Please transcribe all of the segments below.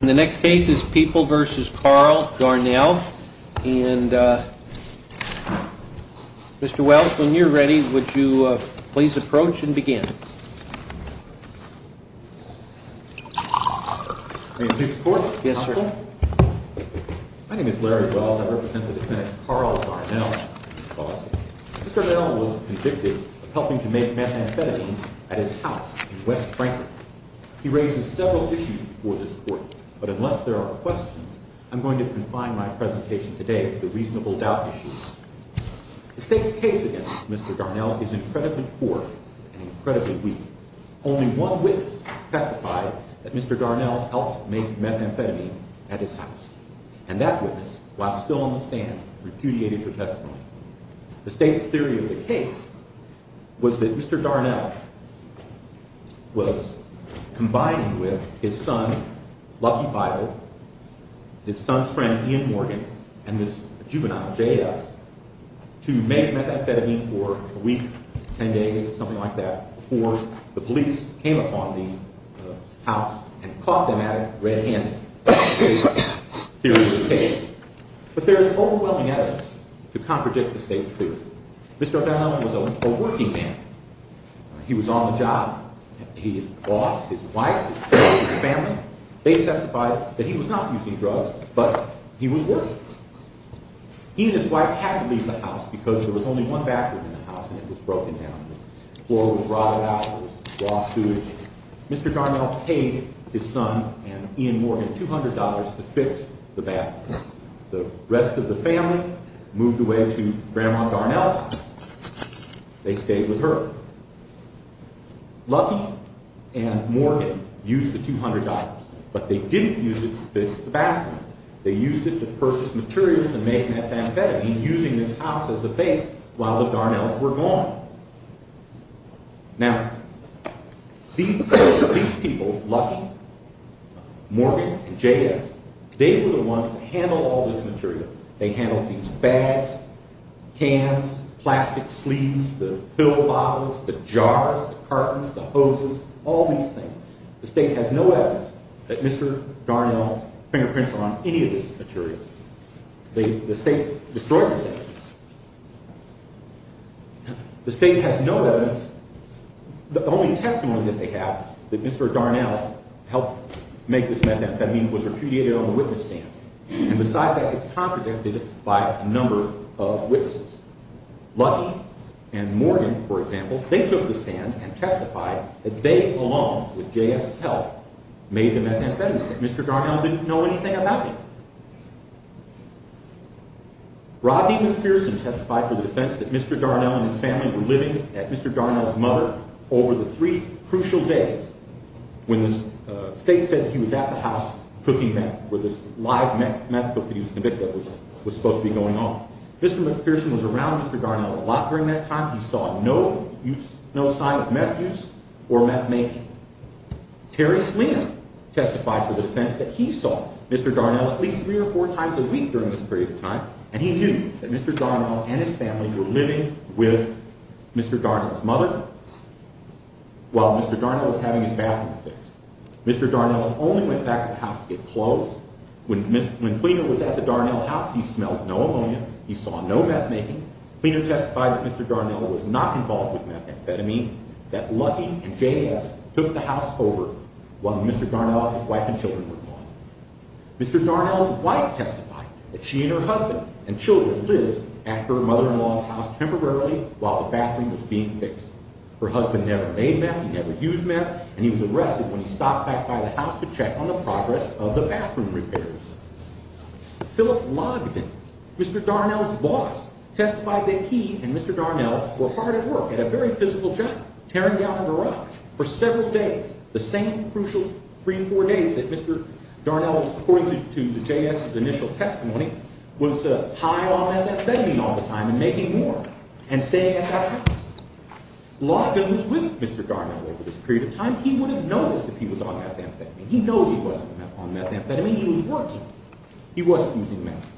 The next case is People v. Carl Darnell. Mr. Welch, when you're ready, would you please approach and begin. May I introduce the court? Yes, sir. My name is Larry Welch. I represent the defendant, Carl Darnell. Mr. Darnell was convicted of helping to make methamphetamine at his house in West Franklin. He raises several issues before this court, but unless there are questions, I'm going to confine my presentation today to the reasonable doubt issues. The state's case against Mr. Darnell is incredibly poor and incredibly weak. Only one witness testified that Mr. Darnell helped make methamphetamine at his house. And that witness, while still on the stand, repudiated her testimony. The state's theory of the case was that Mr. Darnell was combining with his son, Lucky Vidal, his son's friend, Ian Morgan, and this juvenile, J.S., to make methamphetamine for a week, ten days, something like that, before the police came upon the house and caught them at it red-handed. But there is overwhelming evidence to contradict the state's theory. Mr. Darnell was a working man. He was on the job. His boss, his wife, his friends, his family, they testified that he was not using drugs, but he was working. He and his wife had to leave the house because there was only one bathroom in the house and it was broken down. The floor was rotted out. There was raw sewage. Mr. Darnell paid his son and Ian Morgan $200 to fix the bathroom. The rest of the family moved away to Grandma Darnell's house. They stayed with her. Lucky and Morgan used the $200, but they didn't use it to fix the bathroom. They used it to purchase materials to make methamphetamine, using this house as a base while the Darnells were gone. Now, these people, Lucky, Morgan, and J.S., they were the ones that handled all this material. They handled these bags, cans, plastic sleeves, the pill bottles, the jars, the cartons, the hoses, all these things. The state has no evidence that Mr. Darnell's fingerprints are on any of this material. The state destroys this evidence. The state has no evidence. The only testimony that they have that Mr. Darnell helped make this methamphetamine was repudiated on the witness stand. And besides that, it's contradicted by a number of witnesses. Lucky and Morgan, for example, they took the stand and testified that they alone, with J.S.'s help, made the methamphetamine. Mr. Darnell didn't know anything about it. Rodney McPherson testified for the defense that Mr. Darnell and his family were living at Mr. Darnell's mother over the three crucial days. When the state said he was at the house cooking meth, where this live meth took place, and it was supposed to be going on. Mr. McPherson was around Mr. Darnell a lot during that time. He saw no sign of meth use or meth making. Terry Sleena testified for the defense that he saw Mr. Darnell at least three or four times a week during this period of time. And he knew that Mr. Darnell and his family were living with Mr. Darnell's mother while Mr. Darnell was having his bathroom fixed. Mr. Darnell only went back to the house to get clothes. When Fleena was at the Darnell house, he smelled no ammonia. He saw no meth making. Fleena testified that Mr. Darnell was not involved with methamphetamine, that Lucky and J.S. took the house over while Mr. Darnell and his wife and children were gone. Mr. Darnell's wife testified that she and her husband and children lived at her mother-in-law's house temporarily while the bathroom was being fixed. Her husband never made meth, he never used meth, and he was arrested when he stopped back by the house to check on the progress of the bathroom repairs. Philip Logdon, Mr. Darnell's boss, testified that he and Mr. Darnell were hard at work at a very physical job, tearing down a garage for several days, the same crucial three or four days that Mr. Darnell, according to J.S.'s initial testimony, was high on methamphetamine all the time and making more and staying at that house. Logdon was with Mr. Darnell over this period of time. He would have noticed if he was on methamphetamine. He knows he wasn't on methamphetamine, he was working. He wasn't using meth.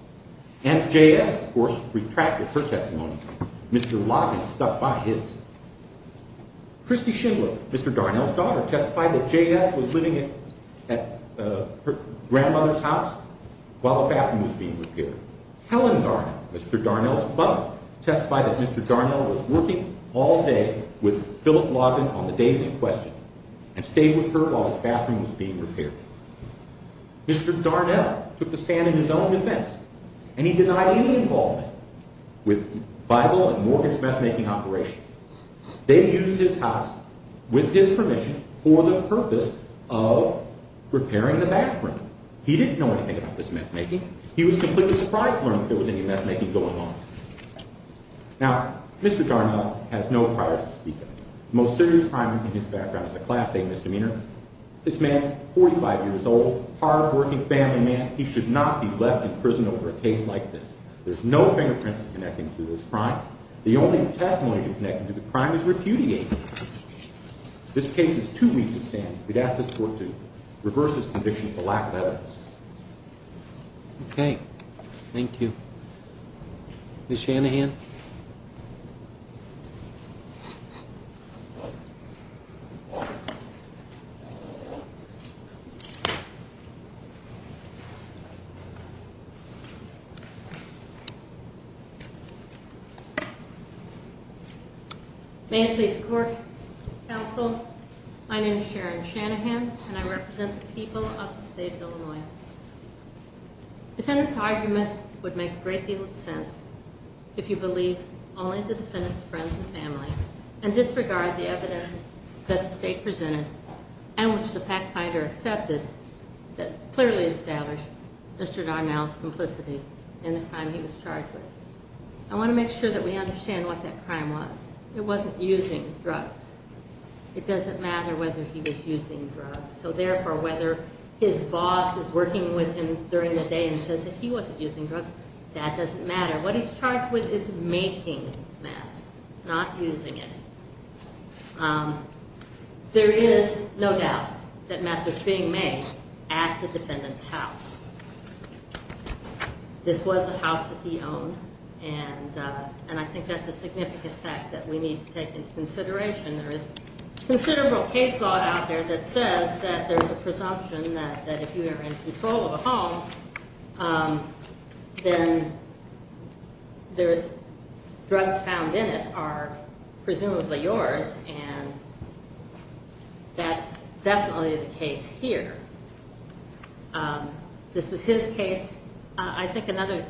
And J.S., of course, retracted her testimony. Mr. Logdon stuck by his. Christy Schindler, Mr. Darnell's daughter, testified that J.S. was living at her grandmother's house while the bathroom was being repaired. Helen Darnell, Mr. Darnell's mother, testified that Mr. Darnell was working all day with Philip Logdon on the days in question and stayed with her while his bathroom was being repaired. Mr. Darnell took the stand in his own defense, and he denied any involvement with Bible and mortgage methamphetamine operations. They used his house, with his permission, for the purpose of repairing the bathroom. He didn't know anything about this methamphetamine. He was completely surprised to learn that there was any methamphetamine going on. Now, Mr. Darnell has no prior to speaking. The most serious crime in his background is a Class A misdemeanor. This man is 45 years old, hard-working family man. He should not be left in prison over a case like this. There's no fingerprints connecting to this crime. The only testimony connecting to the crime is repudiation. This case is too weak to stand. We'd ask this court to reverse its conviction for lack of evidence. Okay. Thank you. Ms. Shanahan. May it please the court, counsel, my name is Sharon Shanahan, and I represent the people of the state of Illinois. Defendant's argument would make a great deal of sense if you believe only the defendant's friends and family, and disregard the evidence that the state presented, and which the fact finder accepted, that clearly established Mr. Darnell's complicity in the crime he was charged with. I want to make sure that we understand what that crime was. It wasn't using drugs. It doesn't matter whether he was using drugs. So therefore, whether his boss is working with him during the day and says that he wasn't using drugs, that doesn't matter. What he's charged with is making meth, not using it. There is no doubt that meth was being made at the defendant's house. This was the house that he owned, and I think that's a significant fact that we need to take into consideration that there is considerable case law out there that says that there's a presumption that if you are in control of a home, then the drugs found in it are presumably yours, and that's definitely the case here. This was his case. I think another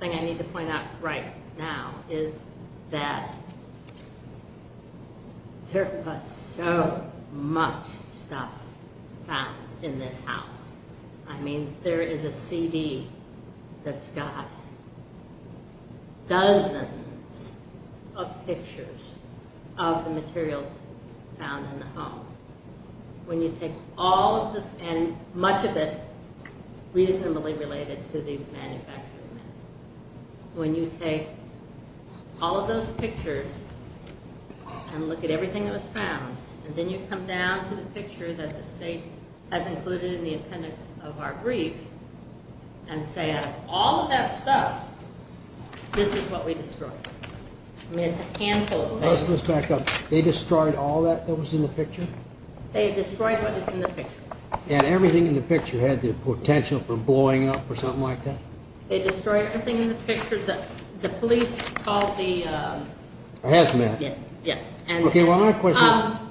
thing I need to point out right now is that there was so much stuff found in this house. I mean, there is a CD that's got dozens of pictures of the materials found in the home. When you take all of this, and much of it reasonably related to the manufacturing meth, when you take all of those pictures and look at everything that was found, and then you come down to the picture that the state has included in the appendix of our brief and say, out of all of that stuff, this is what we destroyed. I mean, it's a handful. Let's back up. They destroyed all that that was in the picture? They destroyed what was in the picture. And everything in the picture had the potential for blowing up or something like that? They destroyed everything in the picture. The police called the... Hazmat. Yes. Okay, well,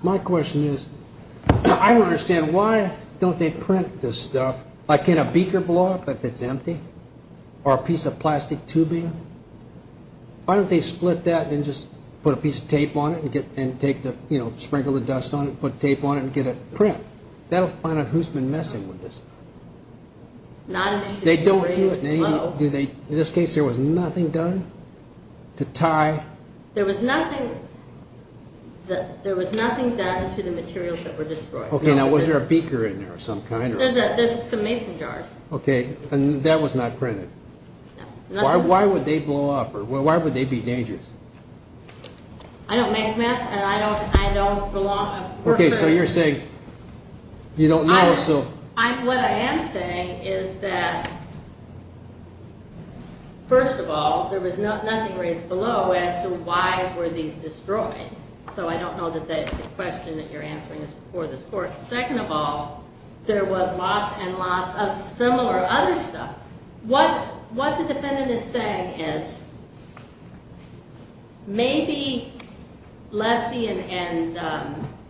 my question is, I don't understand. Why don't they print this stuff? Like, can a beaker blow up if it's empty? Or a piece of plastic tubing? Why don't they split that and just put a piece of tape on it and sprinkle the dust on it and put tape on it and get it print? That'll find out who's been messing with this. They don't do it. In this case, there was nothing done to tie... There was nothing done to the materials that were destroyed. Okay, now, was there a beaker in there of some kind? There's some mason jars. Okay, and that was not printed? No. Why would they blow up, or why would they be dangerous? I don't make math, and I don't belong. Okay, so you're saying you don't know, so... What I am saying is that, first of all, there was nothing raised below as to why were these destroyed. So I don't know that that's the question that you're answering for this court. Second of all, there was lots and lots of similar other stuff. What the defendant is saying is maybe Lefty and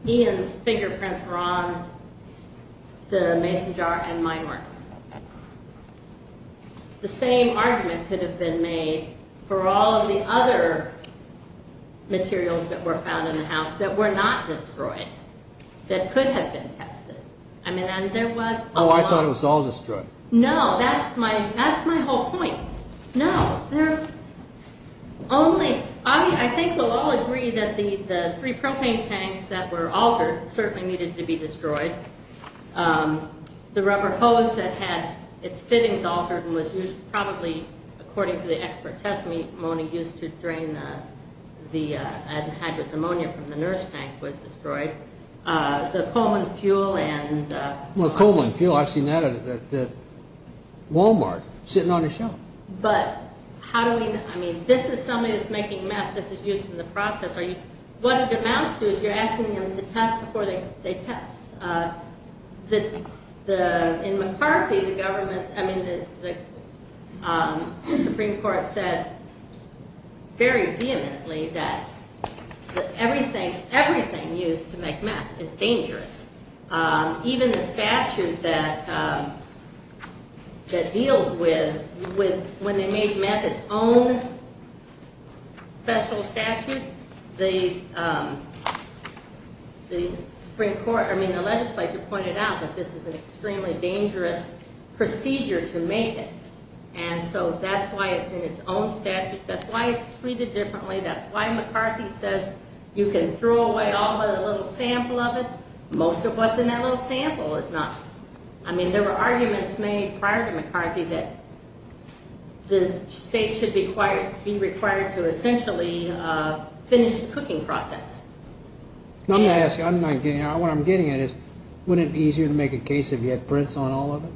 Ian's fingerprints were on the mason jar and mine weren't. The same argument could have been made for all of the other materials that were found in the house that were not destroyed, that could have been tested. I mean, and there was a lot... Oh, I thought it was all destroyed. No, that's my whole point. No, there are only... I think we'll all agree that the three propane tanks that were altered certainly needed to be destroyed. The rubber hose that had its fittings altered and was probably, according to the expert testimony, Mona used to drain the anhydrous ammonia from the nurse tank was destroyed. The Coleman fuel and... Walmart, sitting on a shelf. But how do we... I mean, this is somebody that's making meth. This is used in the process. What it amounts to is you're asking them to test before they test. In McCarthy, the government... I mean, the Supreme Court said very vehemently that everything used to make meth is dangerous. Even the statute that deals with... When they made meth its own special statute, the Supreme Court... I mean, the legislature pointed out that this is an extremely dangerous procedure to make it. And so that's why it's in its own statute. That's why it's treated differently. That's why McCarthy says you can throw away all but a little sample of it. Most of what's in that little sample is not... I mean, there were arguments made prior to McCarthy that the state should be required to essentially finish the cooking process. I'm going to ask you. What I'm getting at is wouldn't it be easier to make a case if you had prints on all of it?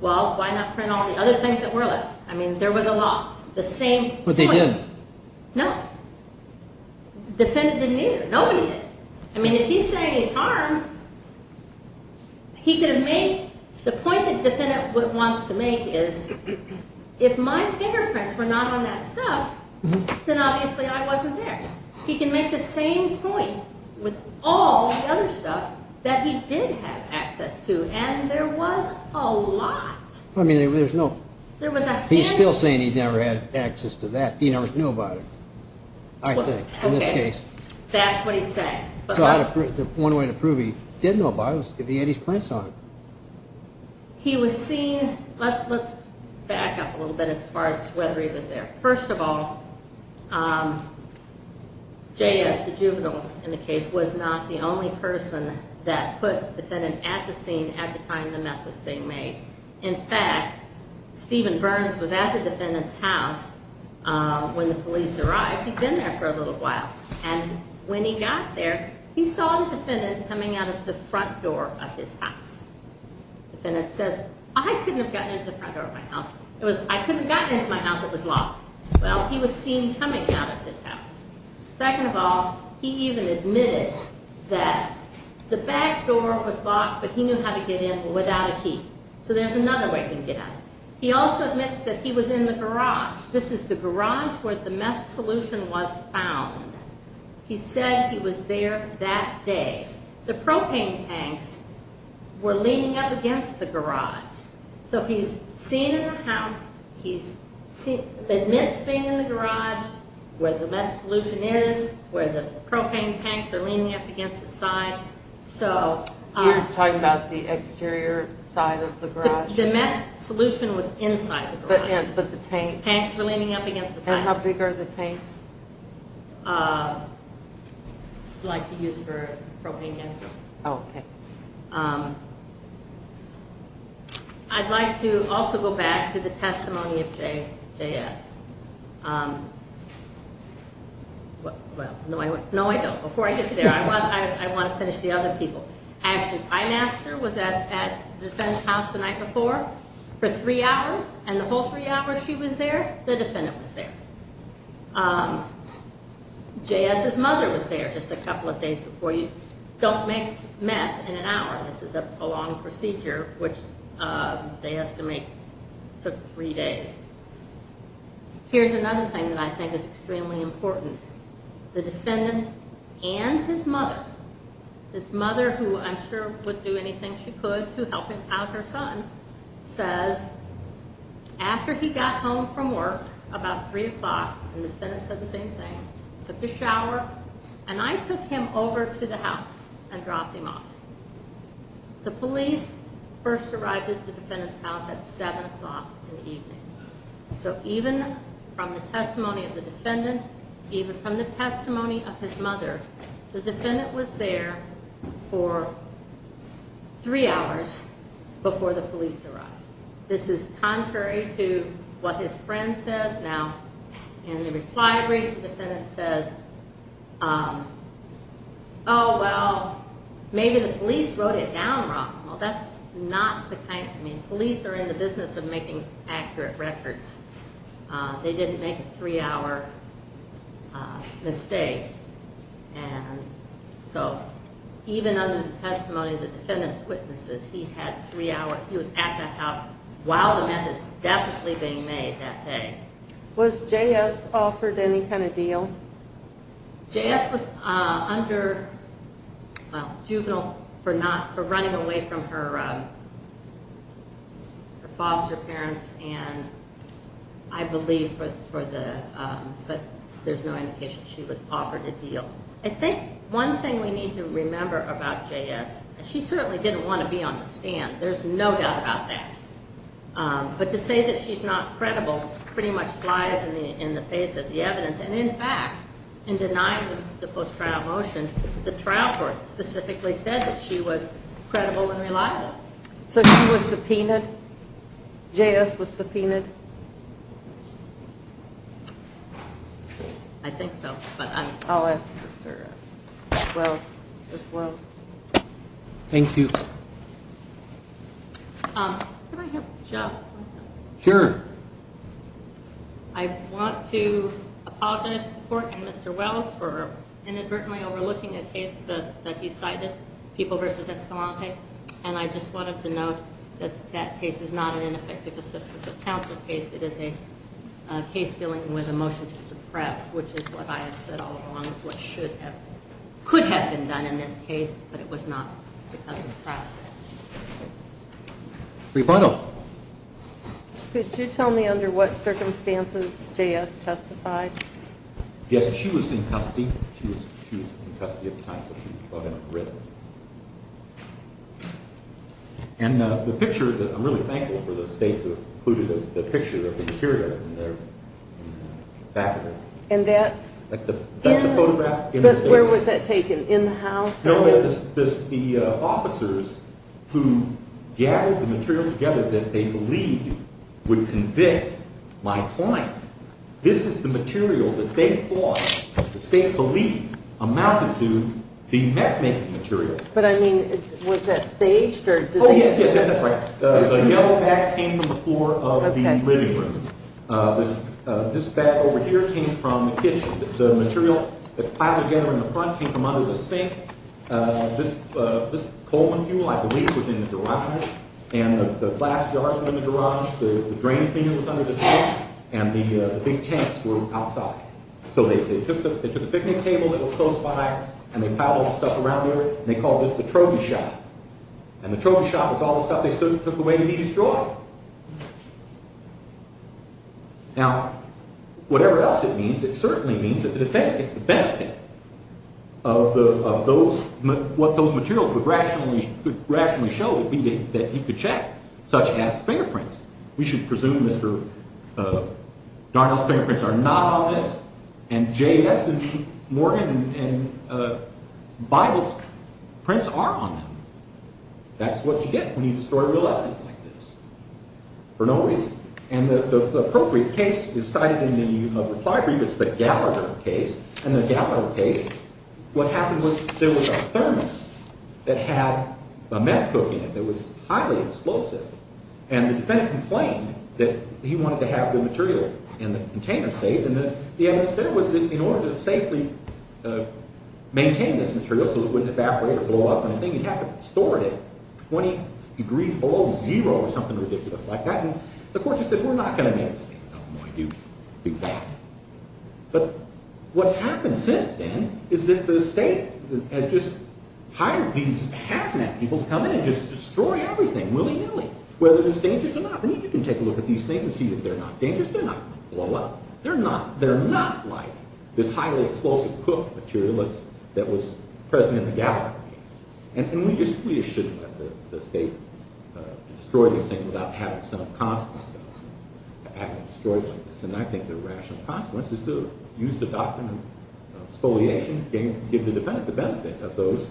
Well, why not print all the other things that were left? I mean, there was a lot. The same... But they didn't. No. Defendant didn't either. Nobody did. I mean, if he's saying he's harmed, he could have made... The point that the defendant wants to make is if my fingerprints were not on that stuff, then obviously I wasn't there. He can make the same point with all the other stuff that he did have access to, and there was a lot. I mean, there was no... There was a hand... He's still saying he never had access to that. He never knew about it, I think, in this case. Okay. That's what he's saying. So one way to prove he did know about it was if he had his prints on it. He was seen... Let's back up a little bit as far as whether he was there. First of all, J.S., the juvenile in the case, was not the only person that put the defendant at the scene at the time the meth was being made. In fact, Stephen Burns was at the defendant's house when the police arrived. He'd been there for a little while, and when he got there, he saw the defendant coming out of the front door of his house. The defendant says, I couldn't have gotten into the front door of my house. It was, I couldn't have gotten into my house. It was locked. Well, he was seen coming out of his house. Second of all, he even admitted that the back door was locked, but he knew how to get in without a key. So there's another way he can get out. He also admits that he was in the garage. This is the garage where the meth solution was found. He said he was there that day. The propane tanks were leaning up against the garage. So he's seen in the house. He admits being in the garage where the meth solution is, where the propane tanks are leaning up against the side. You're talking about the exterior side of the garage? The meth solution was inside the garage. But the tanks? Tanks were leaning up against the side. And how big are the tanks? Like to use for propane gas. Oh, okay. I'd like to also go back to the testimony of J.S. No, I don't. Before I get there, I want to finish the other people. Ashley Primaster was at the defendant's house the night before for three hours. And the whole three hours she was there, the defendant was there. J.S.'s mother was there just a couple of days before you. Don't make meth in an hour. This is a prolonged procedure, which they estimate took three days. Here's another thing that I think is extremely important. The defendant and his mother, his mother who I'm sure would do anything she could to help him have her son, says after he got home from work about 3 o'clock, and the defendant said the same thing, took a shower, and I took him over to the house and dropped him off. The police first arrived at the defendant's house at 7 o'clock in the evening. So even from the testimony of the defendant, even from the testimony of his mother, the defendant was there for three hours before the police arrived. This is contrary to what his friend says now. In the reply brief, the defendant says, oh, well, maybe the police wrote it down wrong. Well, that's not the kind, I mean, police are in the business of making accurate records. They didn't make a three-hour mistake. And so even under the testimony of the defendant's witnesses, he had three hours, he was at that house while the meth is definitely being made that day. Was J.S. offered any kind of deal? J.S. was under juvenile for not, for running away from her foster parents, and I believe for the, but there's no indication she was offered a deal. I think one thing we need to remember about J.S., she certainly didn't want to be on the stand. There's no doubt about that. But to say that she's not credible pretty much lies in the face of the evidence. And, in fact, in denying the post-trial motion, the trial court specifically said that she was credible and reliable. So she was subpoenaed? J.S. was subpoenaed? I'll ask Mr. Swell as well. Thank you. Can I have just one thing? Sure. I want to apologize to the court and Mr. Wells for inadvertently overlooking a case that he cited, People v. Escalante, and I just wanted to note that that case is not an ineffective assistance of counsel case. It is a case dealing with a motion to suppress, which is what I have said all along is what should have, could have been done in this case, but it was not because of trial. Rebuttal. Could you tell me under what circumstances J.S. testified? Yes, she was in custody. She was in custody at the time that she was brought in and written. And the picture, I'm really thankful for the state that included the picture of the material in the back of it. And that's? That's the photograph. Where was that taken, in the house? No, the officers who gathered the material together that they believed would convict my client. This is the material that they thought, the state believed amounted to the meth making material. But I mean, was that staged or? Oh, yes, yes, that's right. The yellow pack came from the floor of the living room. This bag over here came from the kitchen. The material that's piled together in the front came from under the sink. This coal and fuel, I believe, was in the garage. And the glass jars were in the garage. The drain thing was under the sink. And the big tents were outside. So they took the picnic table that was close by and they piled all the stuff around there. And they called this the trophy shop. And the trophy shop was all the stuff they took away to be destroyed. Now, whatever else it means, it certainly means that the defendant gets the benefit of those, what those materials would rationally show would be that he could check such as fingerprints. We should presume Mr. Darnell's fingerprints are not on this and J.S. and Morgan and Bible's prints are on them. That's what you get when you destroy real evidence like this for no reason. And the appropriate case is cited in the reply brief. It's the Gallagher case. In the Gallagher case, what happened was there was a thermos that had a meth cook in it that was highly explosive. And the defendant complained that he wanted to have the material in the container safe. And the evidence there was that in order to safely maintain this material, so it wouldn't evaporate or blow up on a thing, you'd have to have it stored at 20 degrees below zero or something ridiculous like that. And the court just said, we're not going to make this thing. No, we're not going to do that. But what's happened since then is that the state has just hired these hazmat people to come in and just destroy everything willy-nilly, whether it's dangerous or not. And you can take a look at these things and see that they're not dangerous. They're not going to blow up. They're not like this highly explosive cook material that was present in the Gallagher case. And we just shouldn't let the state destroy these things without having some consequences. Having them destroyed like this. And I think the rational consequence is to use the doctrine of exfoliation, give the defendant the benefit of those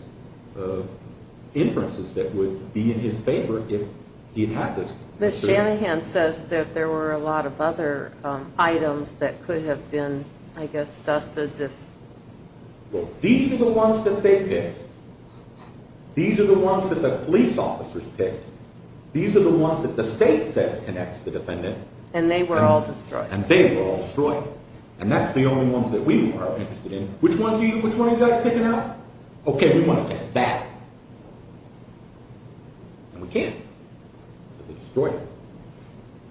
inferences that would be in his favor if he had this material. Ms. Shanahan says that there were a lot of other items that could have been, I guess, dusted. Well, these are the ones that they picked. These are the ones that the police officers picked. These are the ones that the state says connects the defendant. And they were all destroyed. And they were all destroyed. And that's the only ones that we are interested in. Which ones are you guys picking out? Okay, we want to test that. And we can't. Because they destroyed it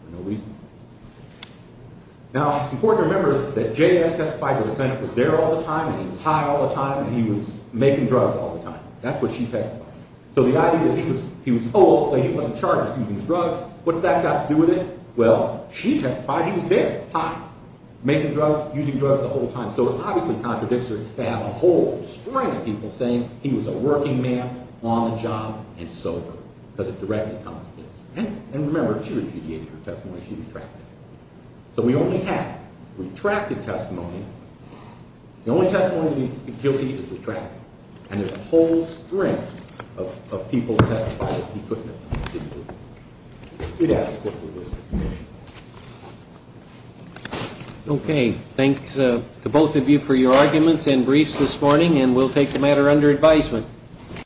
for no reason. Now, it's important to remember that J.S. testified that the defendant was there all the time, and he was high all the time, and he was making drugs all the time. That's what she testified. So the idea that he was told that he wasn't charged with using drugs, what's that got to do with it? Well, she testified he was there, high, making drugs, using drugs the whole time. So it obviously contradicts her to have a whole string of people saying he was a working man, on the job, and sober. Because it directly contradicts her. And remember, she repudiated her testimony. She retracted it. So we only have retracted testimony. The only testimony that he's guilty of is retracted. And there's a whole string of people who testified that he couldn't have continued to do that. It has to do with this commission. Okay. Thanks to both of you for your arguments and briefs this morning, and we'll take the matter under advisement.